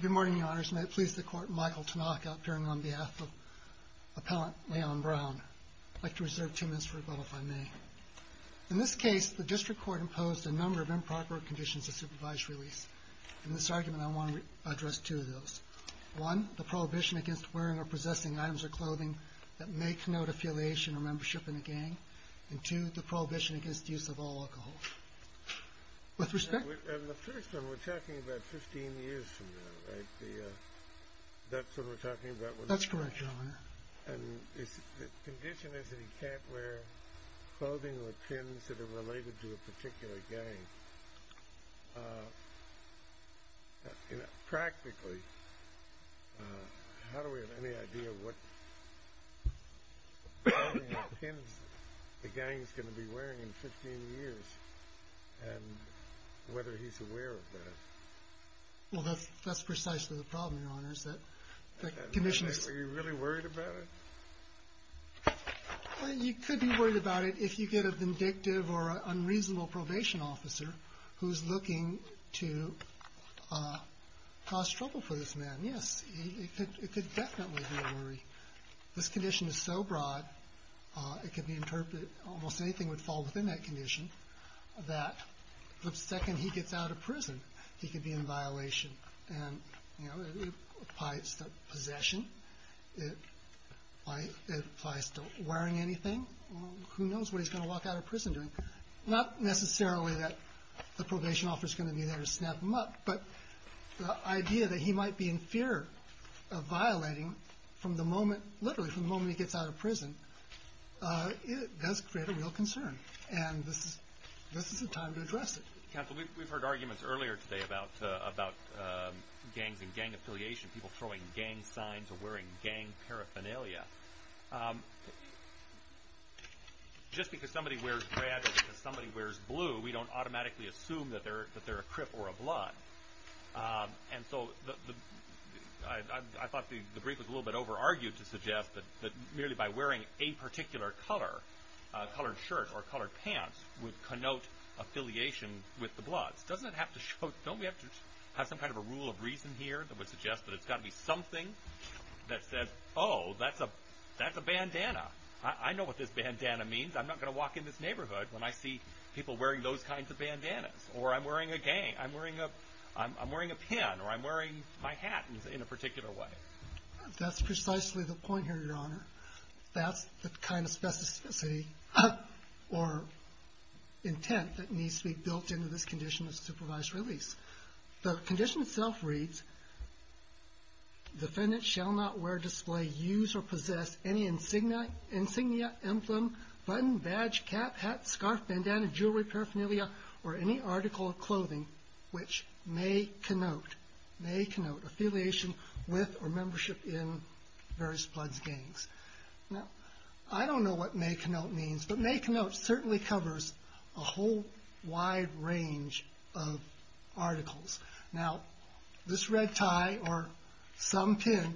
Good morning, Your Honors. May it please the Court, Michael Tanaka, appearing on behalf of Appellant Leon Brown. I'd like to reserve two minutes for rebuttal, if I may. In this case, the District Court imposed a number of improper conditions of supervised release. In this argument, I want to address two of those. One, the prohibition against wearing or possessing items or clothing that may connote affiliation or membership in a particular gang, and the other, the prohibition against wearing or possessing items or clothing that may connote affiliation or membership in a particular gang. And whether he's aware of that. TANAKA Well, that's precisely the problem, Your Honors, that commissioners... BROWN Were you really worried about it? TANAKA You could be worried about it if you get a vindictive or unreasonable probation officer who's looking to cause trouble for this man, yes. It could definitely be a worry. This condition is so broad, it could be interpreted, almost anything would fall within that condition, that the second he gets out of prison, he could be in violation. And, you know, it applies to possession. It applies to wearing anything. Who knows what he's going to walk out of prison doing? Not necessarily that the probation officer's going to be there to snap him up, but the idea that he might be in fear of violating from the moment, literally from the moment he gets out of prison, it does create a real concern. And this is the time to address it. BROWN Counsel, we've heard arguments earlier today about gangs and gang affiliation, people throwing gang signs or wearing gang paraphernalia. Just because somebody wears red or because somebody wears blue, we don't automatically assume that they're a crip or a blood. And so I thought the brief was a little bit over-argued to suggest that merely by wearing a particular color, colored shirt or colored pants, would connote affiliation with the bloods. Doesn't it have to show, don't we have to have some kind of a rule of reason here that would suggest that it's got to be something that says, oh, that's a bandana. I know what this bandana means. I'm not going to walk in this neighborhood when I see people wearing those kinds of bandanas. Or I'm wearing a gang, I'm wearing a pin, or I'm wearing my hat in a particular way. That's precisely the point here, Your Honor. That's the kind of specificity or intent that needs to be built into this condition of supervised release. The condition itself reads, Defendants shall not wear, display, use, or possess any insignia, emblem, button, badge, cap, hat, scarf, bandana, jewelry, paraphernalia, or any article of clothing which may connote affiliation with or membership in various bloods, gangs. Now, I don't know what may connote means, but may connote certainly covers a whole wide range of articles. Now, this red tie or some pin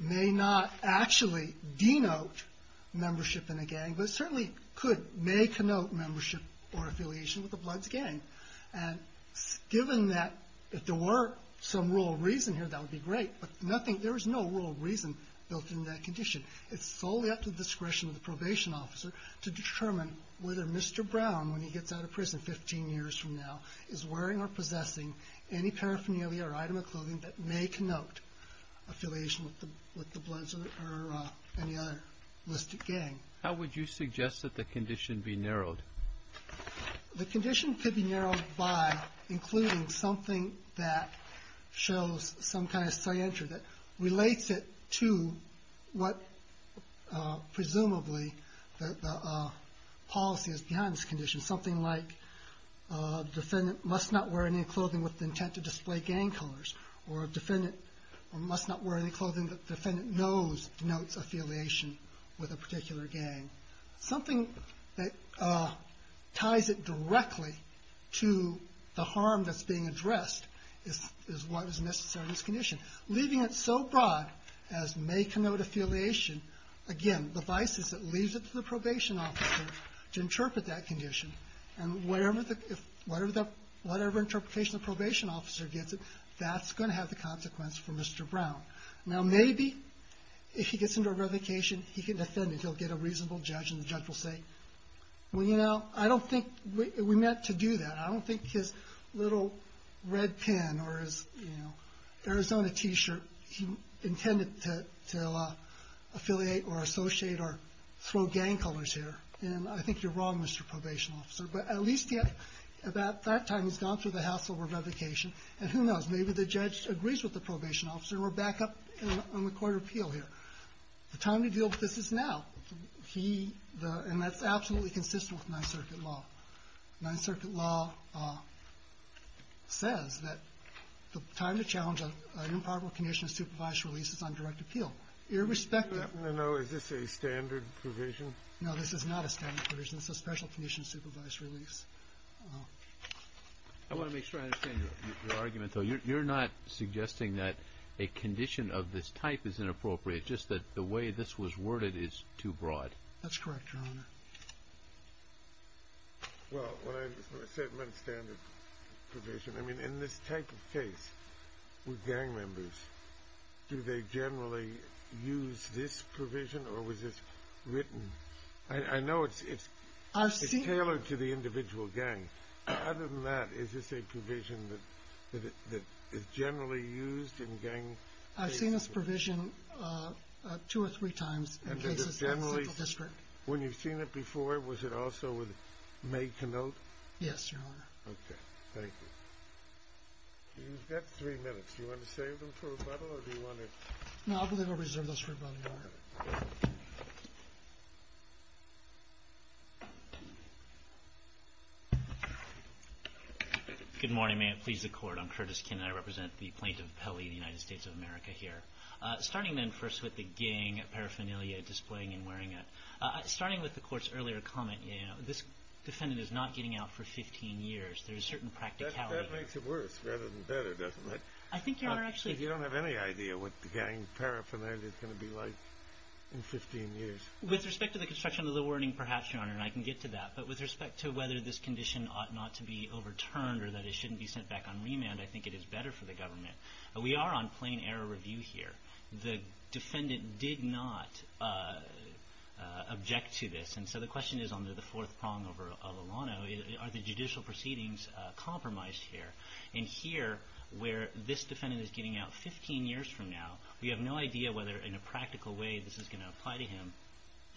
may not actually denote membership in a gang, but it certainly could, may connote membership or affiliation with a bloods gang. And given that if there were some rule of reason here, that would be great, but there is no rule of reason built into that condition. It's solely up to the discretion of the probation officer to determine whether Mr. Brown, when he gets out of prison 15 years from now, is wearing or possessing any paraphernalia or item of clothing that may connote affiliation with the bloods or any other listed gang. How would you suggest that the condition be narrowed? The condition could be narrowed by including something that shows some kind of scienter that relates it to what presumably the policy is behind this condition. Something like the defendant must not wear any clothing with the intent to display gang colors or a defendant must not wear any clothing that the defendant knows denotes affiliation with a particular gang. Something that ties it directly to the harm that's being addressed is what is necessary in this condition. Leaving it so broad as may connote affiliation, again, the vice is it leaves it to the probation officer to interpret that condition, and whatever interpretation the probation officer gets, that's going to have the consequence for Mr. Brown. Now, maybe if he gets into a revocation, he can defend it. He'll get a reasonable judge, and the judge will say, well, you know, I don't think we meant to do that. I don't think his little red pin or his, you know, Arizona T-shirt, he intended to affiliate or associate or throw gang colors here, and I think you're wrong, Mr. Probation Officer. But at least at that time, he's gone through the hassle of a revocation, and who knows? Maybe the judge agrees with the probation officer, and we're back up on the court of appeal here. The time to deal with this is now, and that's absolutely consistent with Ninth Circuit law. Ninth Circuit law says that the time to challenge an improper condition of supervised release is on direct appeal. Irrespective of the law, is this a standard provision? No, this is not a standard provision. It's a special condition of supervised release. I want to make sure I understand your argument, though. You're not suggesting that a condition of this type is inappropriate, just that the way this was worded is too broad. That's correct, Your Honor. Well, when I say it's not a standard provision, I mean in this type of case with gang members, do they generally use this provision, or was this written? I know it's tailored to the individual gang. Other than that, is this a provision that is generally used in gang cases? It's used in two or three times in cases in the Central District. When you've seen it before, was it also made to note? Yes, Your Honor. Okay, thank you. You've got three minutes. Do you want to save them for rebuttal, or do you want to? No, I believe we'll reserve those for rebuttal, Your Honor. Good morning. May it please the Court. I'm Curtis Kinn. I represent the plaintiff, Pelley, in the United States of America here. Starting, then, first with the gang paraphernalia displaying and wearing it. Starting with the Court's earlier comment, this defendant is not getting out for 15 years. There is certain practicality. That makes it worse rather than better, doesn't it? I think, Your Honor, actually— Because you don't have any idea what the gang paraphernalia is going to be like in 15 years. With respect to the construction of the wording, perhaps, Your Honor, and I can get to that. But with respect to whether this condition ought not to be overturned or that it shouldn't be sent back on remand, I think it is better for the government. We are on plain-error review here. The defendant did not object to this. And so the question is, under the fourth prong of Alano, are the judicial proceedings compromised here? And here, where this defendant is getting out 15 years from now, we have no idea whether, in a practical way, this is going to apply to him.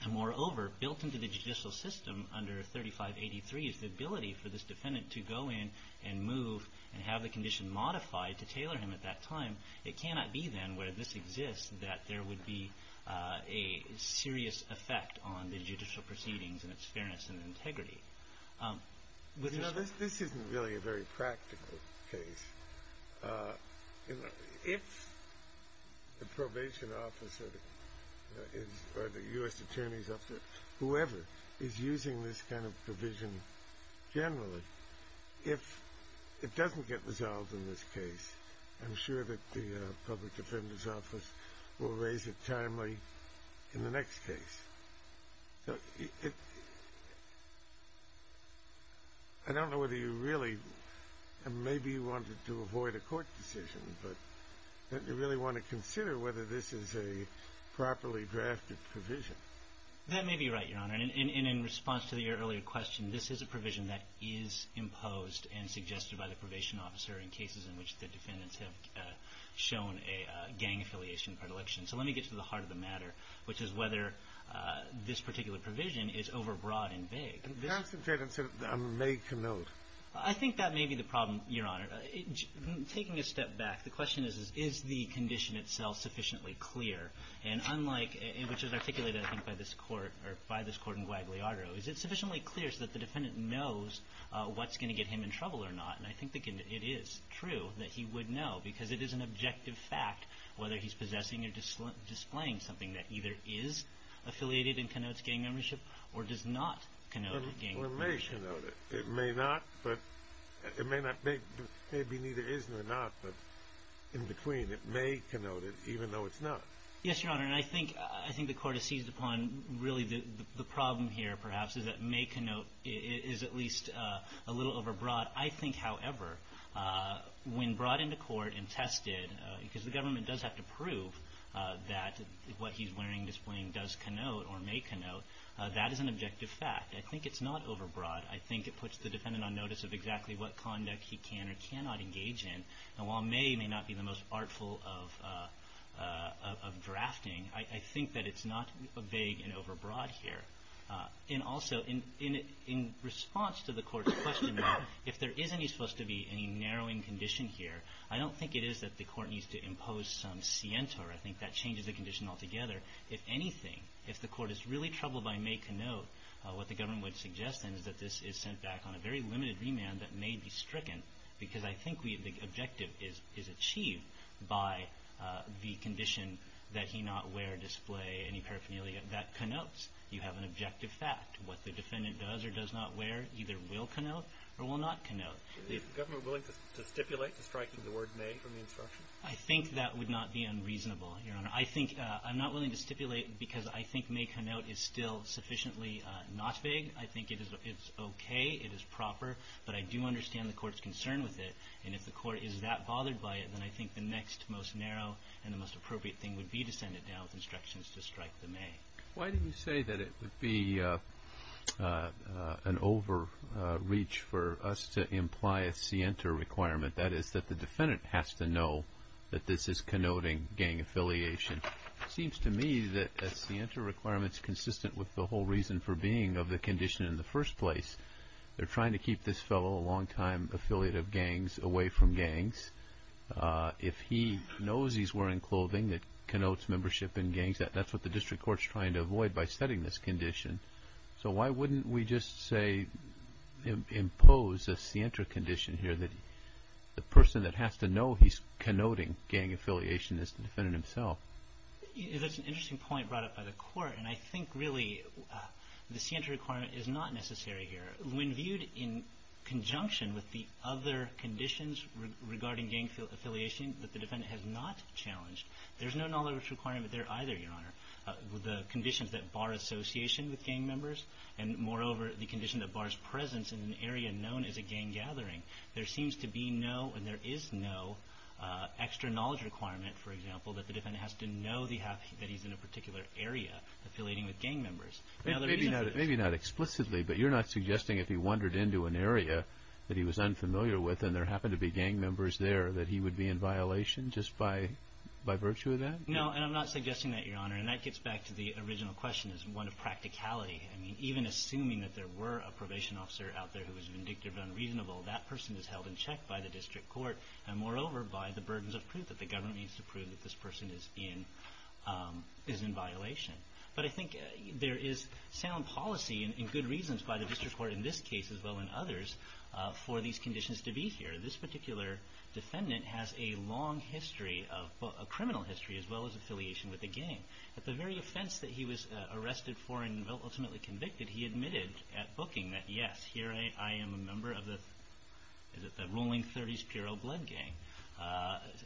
And moreover, built into the judicial system under 3583 is the ability for this defendant to go in and move and have the condition modified to tailor him at that time. It cannot be, then, where this exists, that there would be a serious effect on the judicial proceedings and its fairness and integrity. You know, this isn't really a very practical case. You know, if the probation officer or the U.S. attorneys, whoever, is using this kind of provision generally, if it doesn't get resolved in this case, I'm sure that the public defender's office will raise it timely in the next case. I don't know whether you really, maybe you wanted to avoid a court decision, but you really want to consider whether this is a properly drafted provision. That may be right, Your Honor. And in response to your earlier question, this is a provision that is imposed and suggested by the probation officer in cases in which the defendants have shown a gang affiliation predilection. So let me get to the heart of the matter, which is whether this particular provision is overbroad and vague. And perhaps the defendant may connote. I think that may be the problem, Your Honor. Taking a step back, the question is, is the condition itself sufficiently clear? And unlike, which is articulated, I think, by this Court, or by this Court in Guadalajara, is it sufficiently clear so that the defendant knows what's going to get him in trouble or not? And I think it is true that he would know, because it is an objective fact, whether he's possessing or displaying something that either is affiliated and connotes gang membership or does not connote gang membership. Or may connote it. It may not, but it may not, maybe neither is nor not, but in between, it may connote it even though it's not. Yes, Your Honor. And I think the Court has seized upon really the problem here, perhaps, is that may connote is at least a little overbroad. I think, however, when brought into court and tested, because the government does have to prove that what he's wearing, displaying does connote or may connote, that is an objective fact. I think it's not overbroad. I think it puts the defendant on notice of exactly what conduct he can or cannot engage in. And while may may not be the most artful of drafting, I think that it's not vague and overbroad here. And also, in response to the Court's question, if there is any supposed to be any narrowing condition here, I don't think it is that the Court needs to impose some scientor. I think that changes the condition altogether. If anything, if the Court is really troubled by may connote, what the government would suggest, then, is that this is sent back on a very limited remand that may be stricken, because I think the objective is achieved by the condition that he not wear, display, any paraphernalia, that connotes you have an objective fact. What the defendant does or does not wear either will connote or will not connote. Is the government willing to stipulate the strike to the word may from the instruction? I think that would not be unreasonable, Your Honor. I'm not willing to stipulate because I think may connote is still sufficiently not vague. I think it is okay. It is proper. But I do understand the Court's concern with it. And if the Court is that bothered by it, then I think the next most narrow and the most appropriate thing would be to send it down with instructions to strike the may. Why do you say that it would be an overreach for us to imply a scienter requirement? That is, that the defendant has to know that this is connoting gang affiliation. It seems to me that a scienter requirement is consistent with the whole reason for being of the condition in the first place. They're trying to keep this fellow, a longtime affiliate of gangs, away from gangs. If he knows he's wearing clothing that connotes membership in gangs, that's what the district court is trying to avoid by setting this condition. So why wouldn't we just say impose a scienter condition here that the person that has to know he's connoting gang affiliation is the defendant himself? That's an interesting point brought up by the Court. And I think really the scienter requirement is not necessary here. When viewed in conjunction with the other conditions regarding gang affiliation that the defendant has not challenged, there's no knowledge requirement there either, Your Honor. The conditions that bar association with gang members and, moreover, the condition that bars presence in an area known as a gang gathering, there seems to be no and there is no extra knowledge requirement, for example, that the defendant has to know that he's in a particular area affiliating with gang members. Maybe not explicitly, but you're not suggesting if he wandered into an area that he was unfamiliar with and there happened to be gang members there that he would be in violation just by virtue of that? No, and I'm not suggesting that, Your Honor. And that gets back to the original question as one of practicality. I mean, even assuming that there were a probation officer out there who was vindictive and unreasonable, that person is held in check by the district court and, moreover, by the burdens of proof that the government needs to prove that this person is in violation. But I think there is sound policy and good reasons by the district court in this case as well as in others for these conditions to be here. This particular defendant has a long criminal history as well as affiliation with a gang. At the very offense that he was arrested for and ultimately convicted, he admitted at booking that, yes, here I am a member of the Rolling 30s Pierrot Blood Gang,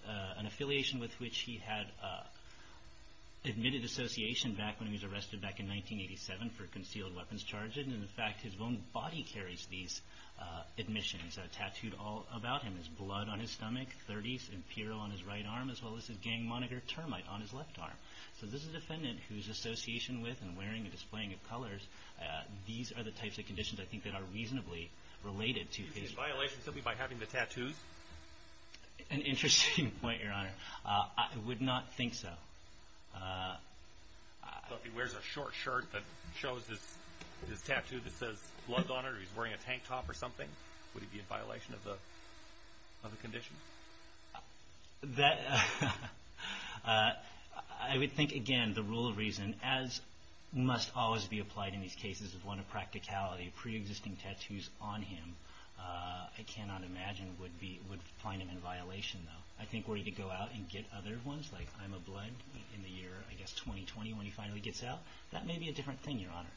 an affiliation with which he had admitted association back when he was arrested back in 1987 for concealed weapons charges. And, in fact, his own body carries these admissions tattooed all about him. There's blood on his stomach, 30s Imperial on his right arm, as well as his gang moniker Termite on his left arm. So this is a defendant whose association with and wearing and displaying of colors, these are the types of conditions I think that are reasonably related to his violation. Would he be in violation simply by having the tattoos? An interesting point, Your Honor. I would not think so. But if he wears a short shirt that shows this tattoo that says blood on it, or he's wearing a tank top or something, would he be in violation of the condition? I would think, again, the rule of reason, as must always be applied in these cases, is one of practicality. Pre-existing tattoos on him, I cannot imagine, would find him in violation, though. I think were he to go out and get other ones, like I'm a Blood in the year, I guess, 2020, when he finally gets out, that may be a different thing, Your Honor.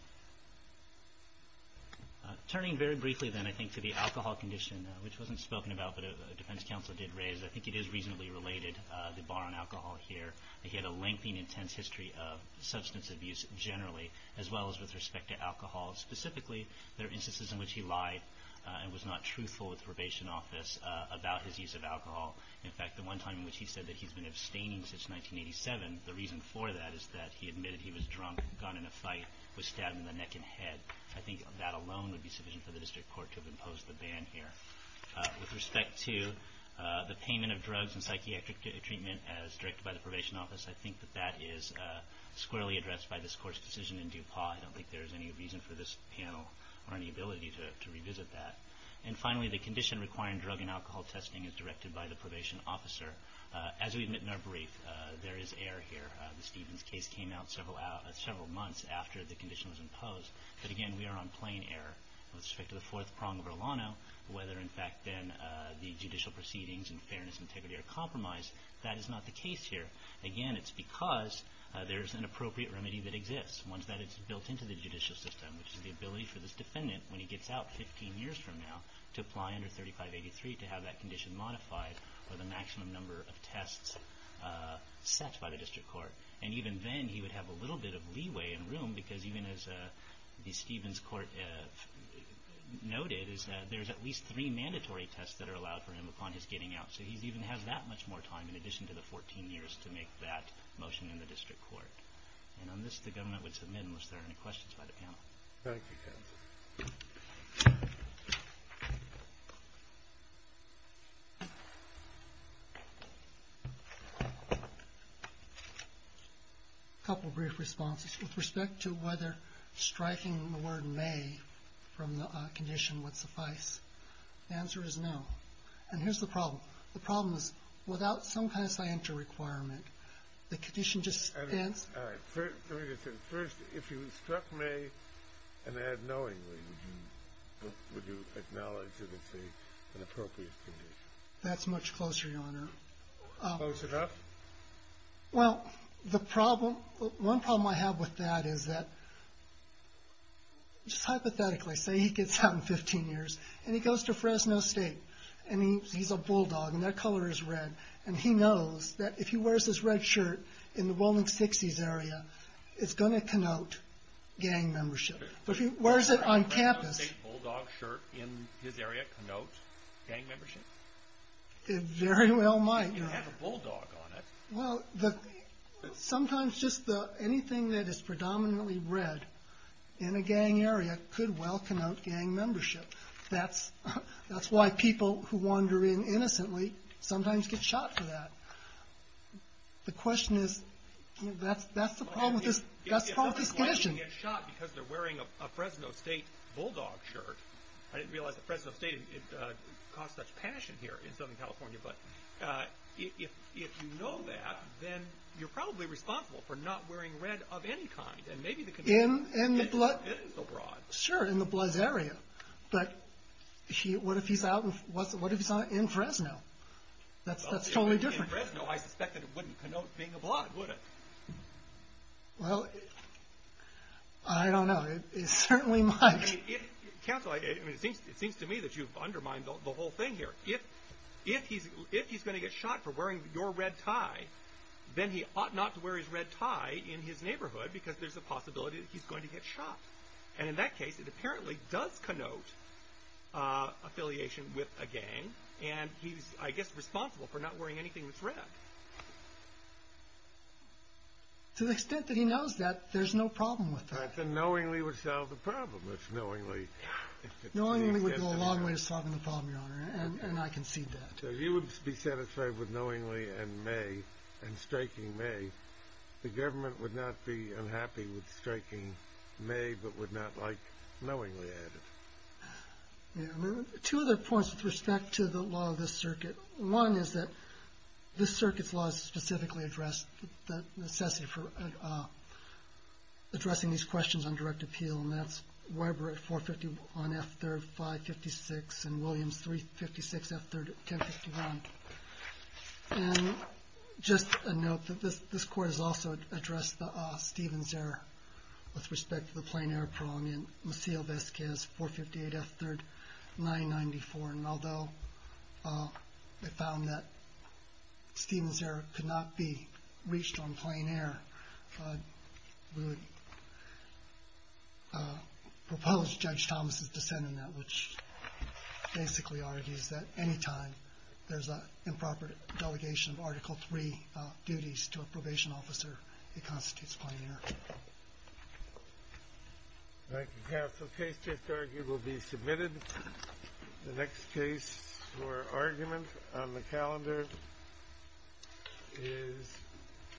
Turning very briefly, then, I think, to the alcohol condition, which wasn't spoken about but a defense counsel did raise, I think it is reasonably related, the bar on alcohol here. He had a lengthy and intense history of substance abuse, generally, as well as with respect to alcohol. Specifically, there are instances in which he lied and was not truthful with probation office about his use of alcohol. In fact, the one time in which he said that he's been abstaining since 1987, the reason for that is that he admitted he was drunk, gone in a fight, was stabbed in the neck and head. I think that alone would be sufficient for the district court to have imposed the ban here. With respect to the payment of drugs and psychiatric treatment as directed by the probation office, I think that that is squarely addressed by this Court's decision in DuPont. I don't think there's any reason for this panel or any ability to revisit that. And finally, the condition requiring drug and alcohol testing is directed by the probation officer. As we admit in our brief, there is error here. The Stevens case came out several months after the condition was imposed. But again, we are on plain error. With respect to the fourth prong of Erlano, whether in fact then the judicial proceedings in fairness and integrity are compromised, that is not the case here. Again, it's because there is an appropriate remedy that exists, one that is built into the judicial system, which is the ability for this defendant, when he gets out 15 years from now, to apply under 3583 to have that condition modified with a maximum number of tests set by the district court. And even then, he would have a little bit of leeway and room because even as the Stevens court noted, there's at least three mandatory tests that are allowed for him upon his getting out. So he even has that much more time in addition to the 14 years to make that motion in the district court. And on this, the government would submit unless there are any questions by the panel. Thank you, counsel. A couple of brief responses. With respect to whether striking the word may from the condition would suffice, the answer is no. And here's the problem. The problem is without some kind of scienter requirement, the condition just stands. First, if you struck may unknowingly, would you acknowledge that it's an appropriate condition? That's much closer, Your Honor. Close enough? Well, the problem, one problem I have with that is that just hypothetically, say he gets out in 15 years, and he goes to Fresno State, and he's a bulldog, and that color is red, and he knows that if he wears this red shirt in the bowling 60s area, it's going to connote gang membership. But if he wears it on campus. Does a bulldog shirt in his area connote gang membership? It very well might, Your Honor. It has a bulldog on it. Well, sometimes just anything that is predominantly red in a gang area could well connote gang membership. That's why people who wander in innocently sometimes get shot for that. The question is, that's the problem with this condition. If a black person gets shot because they're wearing a Fresno State bulldog shirt, I didn't realize that Fresno State caused such passion here in Southern California, but if you know that, then you're probably responsible for not wearing red of any kind. And maybe the condition is so broad. Sure, in the Blizz area, but what if he's out in Fresno? That's totally different. In Fresno, I suspect that it wouldn't connote being a black, would it? Well, I don't know. It certainly might. Counsel, it seems to me that you've undermined the whole thing here. If he's going to get shot for wearing your red tie, then he ought not to wear his red tie in his neighborhood, because there's a possibility that he's going to get shot. And in that case, it apparently does connote affiliation with a gang, and he's, I guess, responsible for not wearing anything that's red. To the extent that he knows that, there's no problem with that. That's a knowingly would solve the problem, it's knowingly. Knowingly would go a long way to solving the problem, Your Honor, and I concede that. If you would be satisfied with knowingly and may, and striking may, then the government would not be unhappy with striking may, but would not like knowingly at it. Two other points with respect to the law of this circuit. One is that this circuit's laws specifically address the necessity for addressing these questions on direct appeal, and that's Weber at 451, F3rd, 556, and Williams, 356, F3rd, 1051. And just a note that this court has also addressed Stephen's error with respect to the plain error problem in Maciel Vasquez, 458, F3rd, 994, and although they found that Stephen's error could not be reached on plain error, we would propose Judge Thomas' dissent in that, which basically argues that any time there's an improper delegation of Article III duties to a probation officer, it constitutes plain error. Thank you, counsel. Case just argued will be submitted. The next case for argument on the calendar is...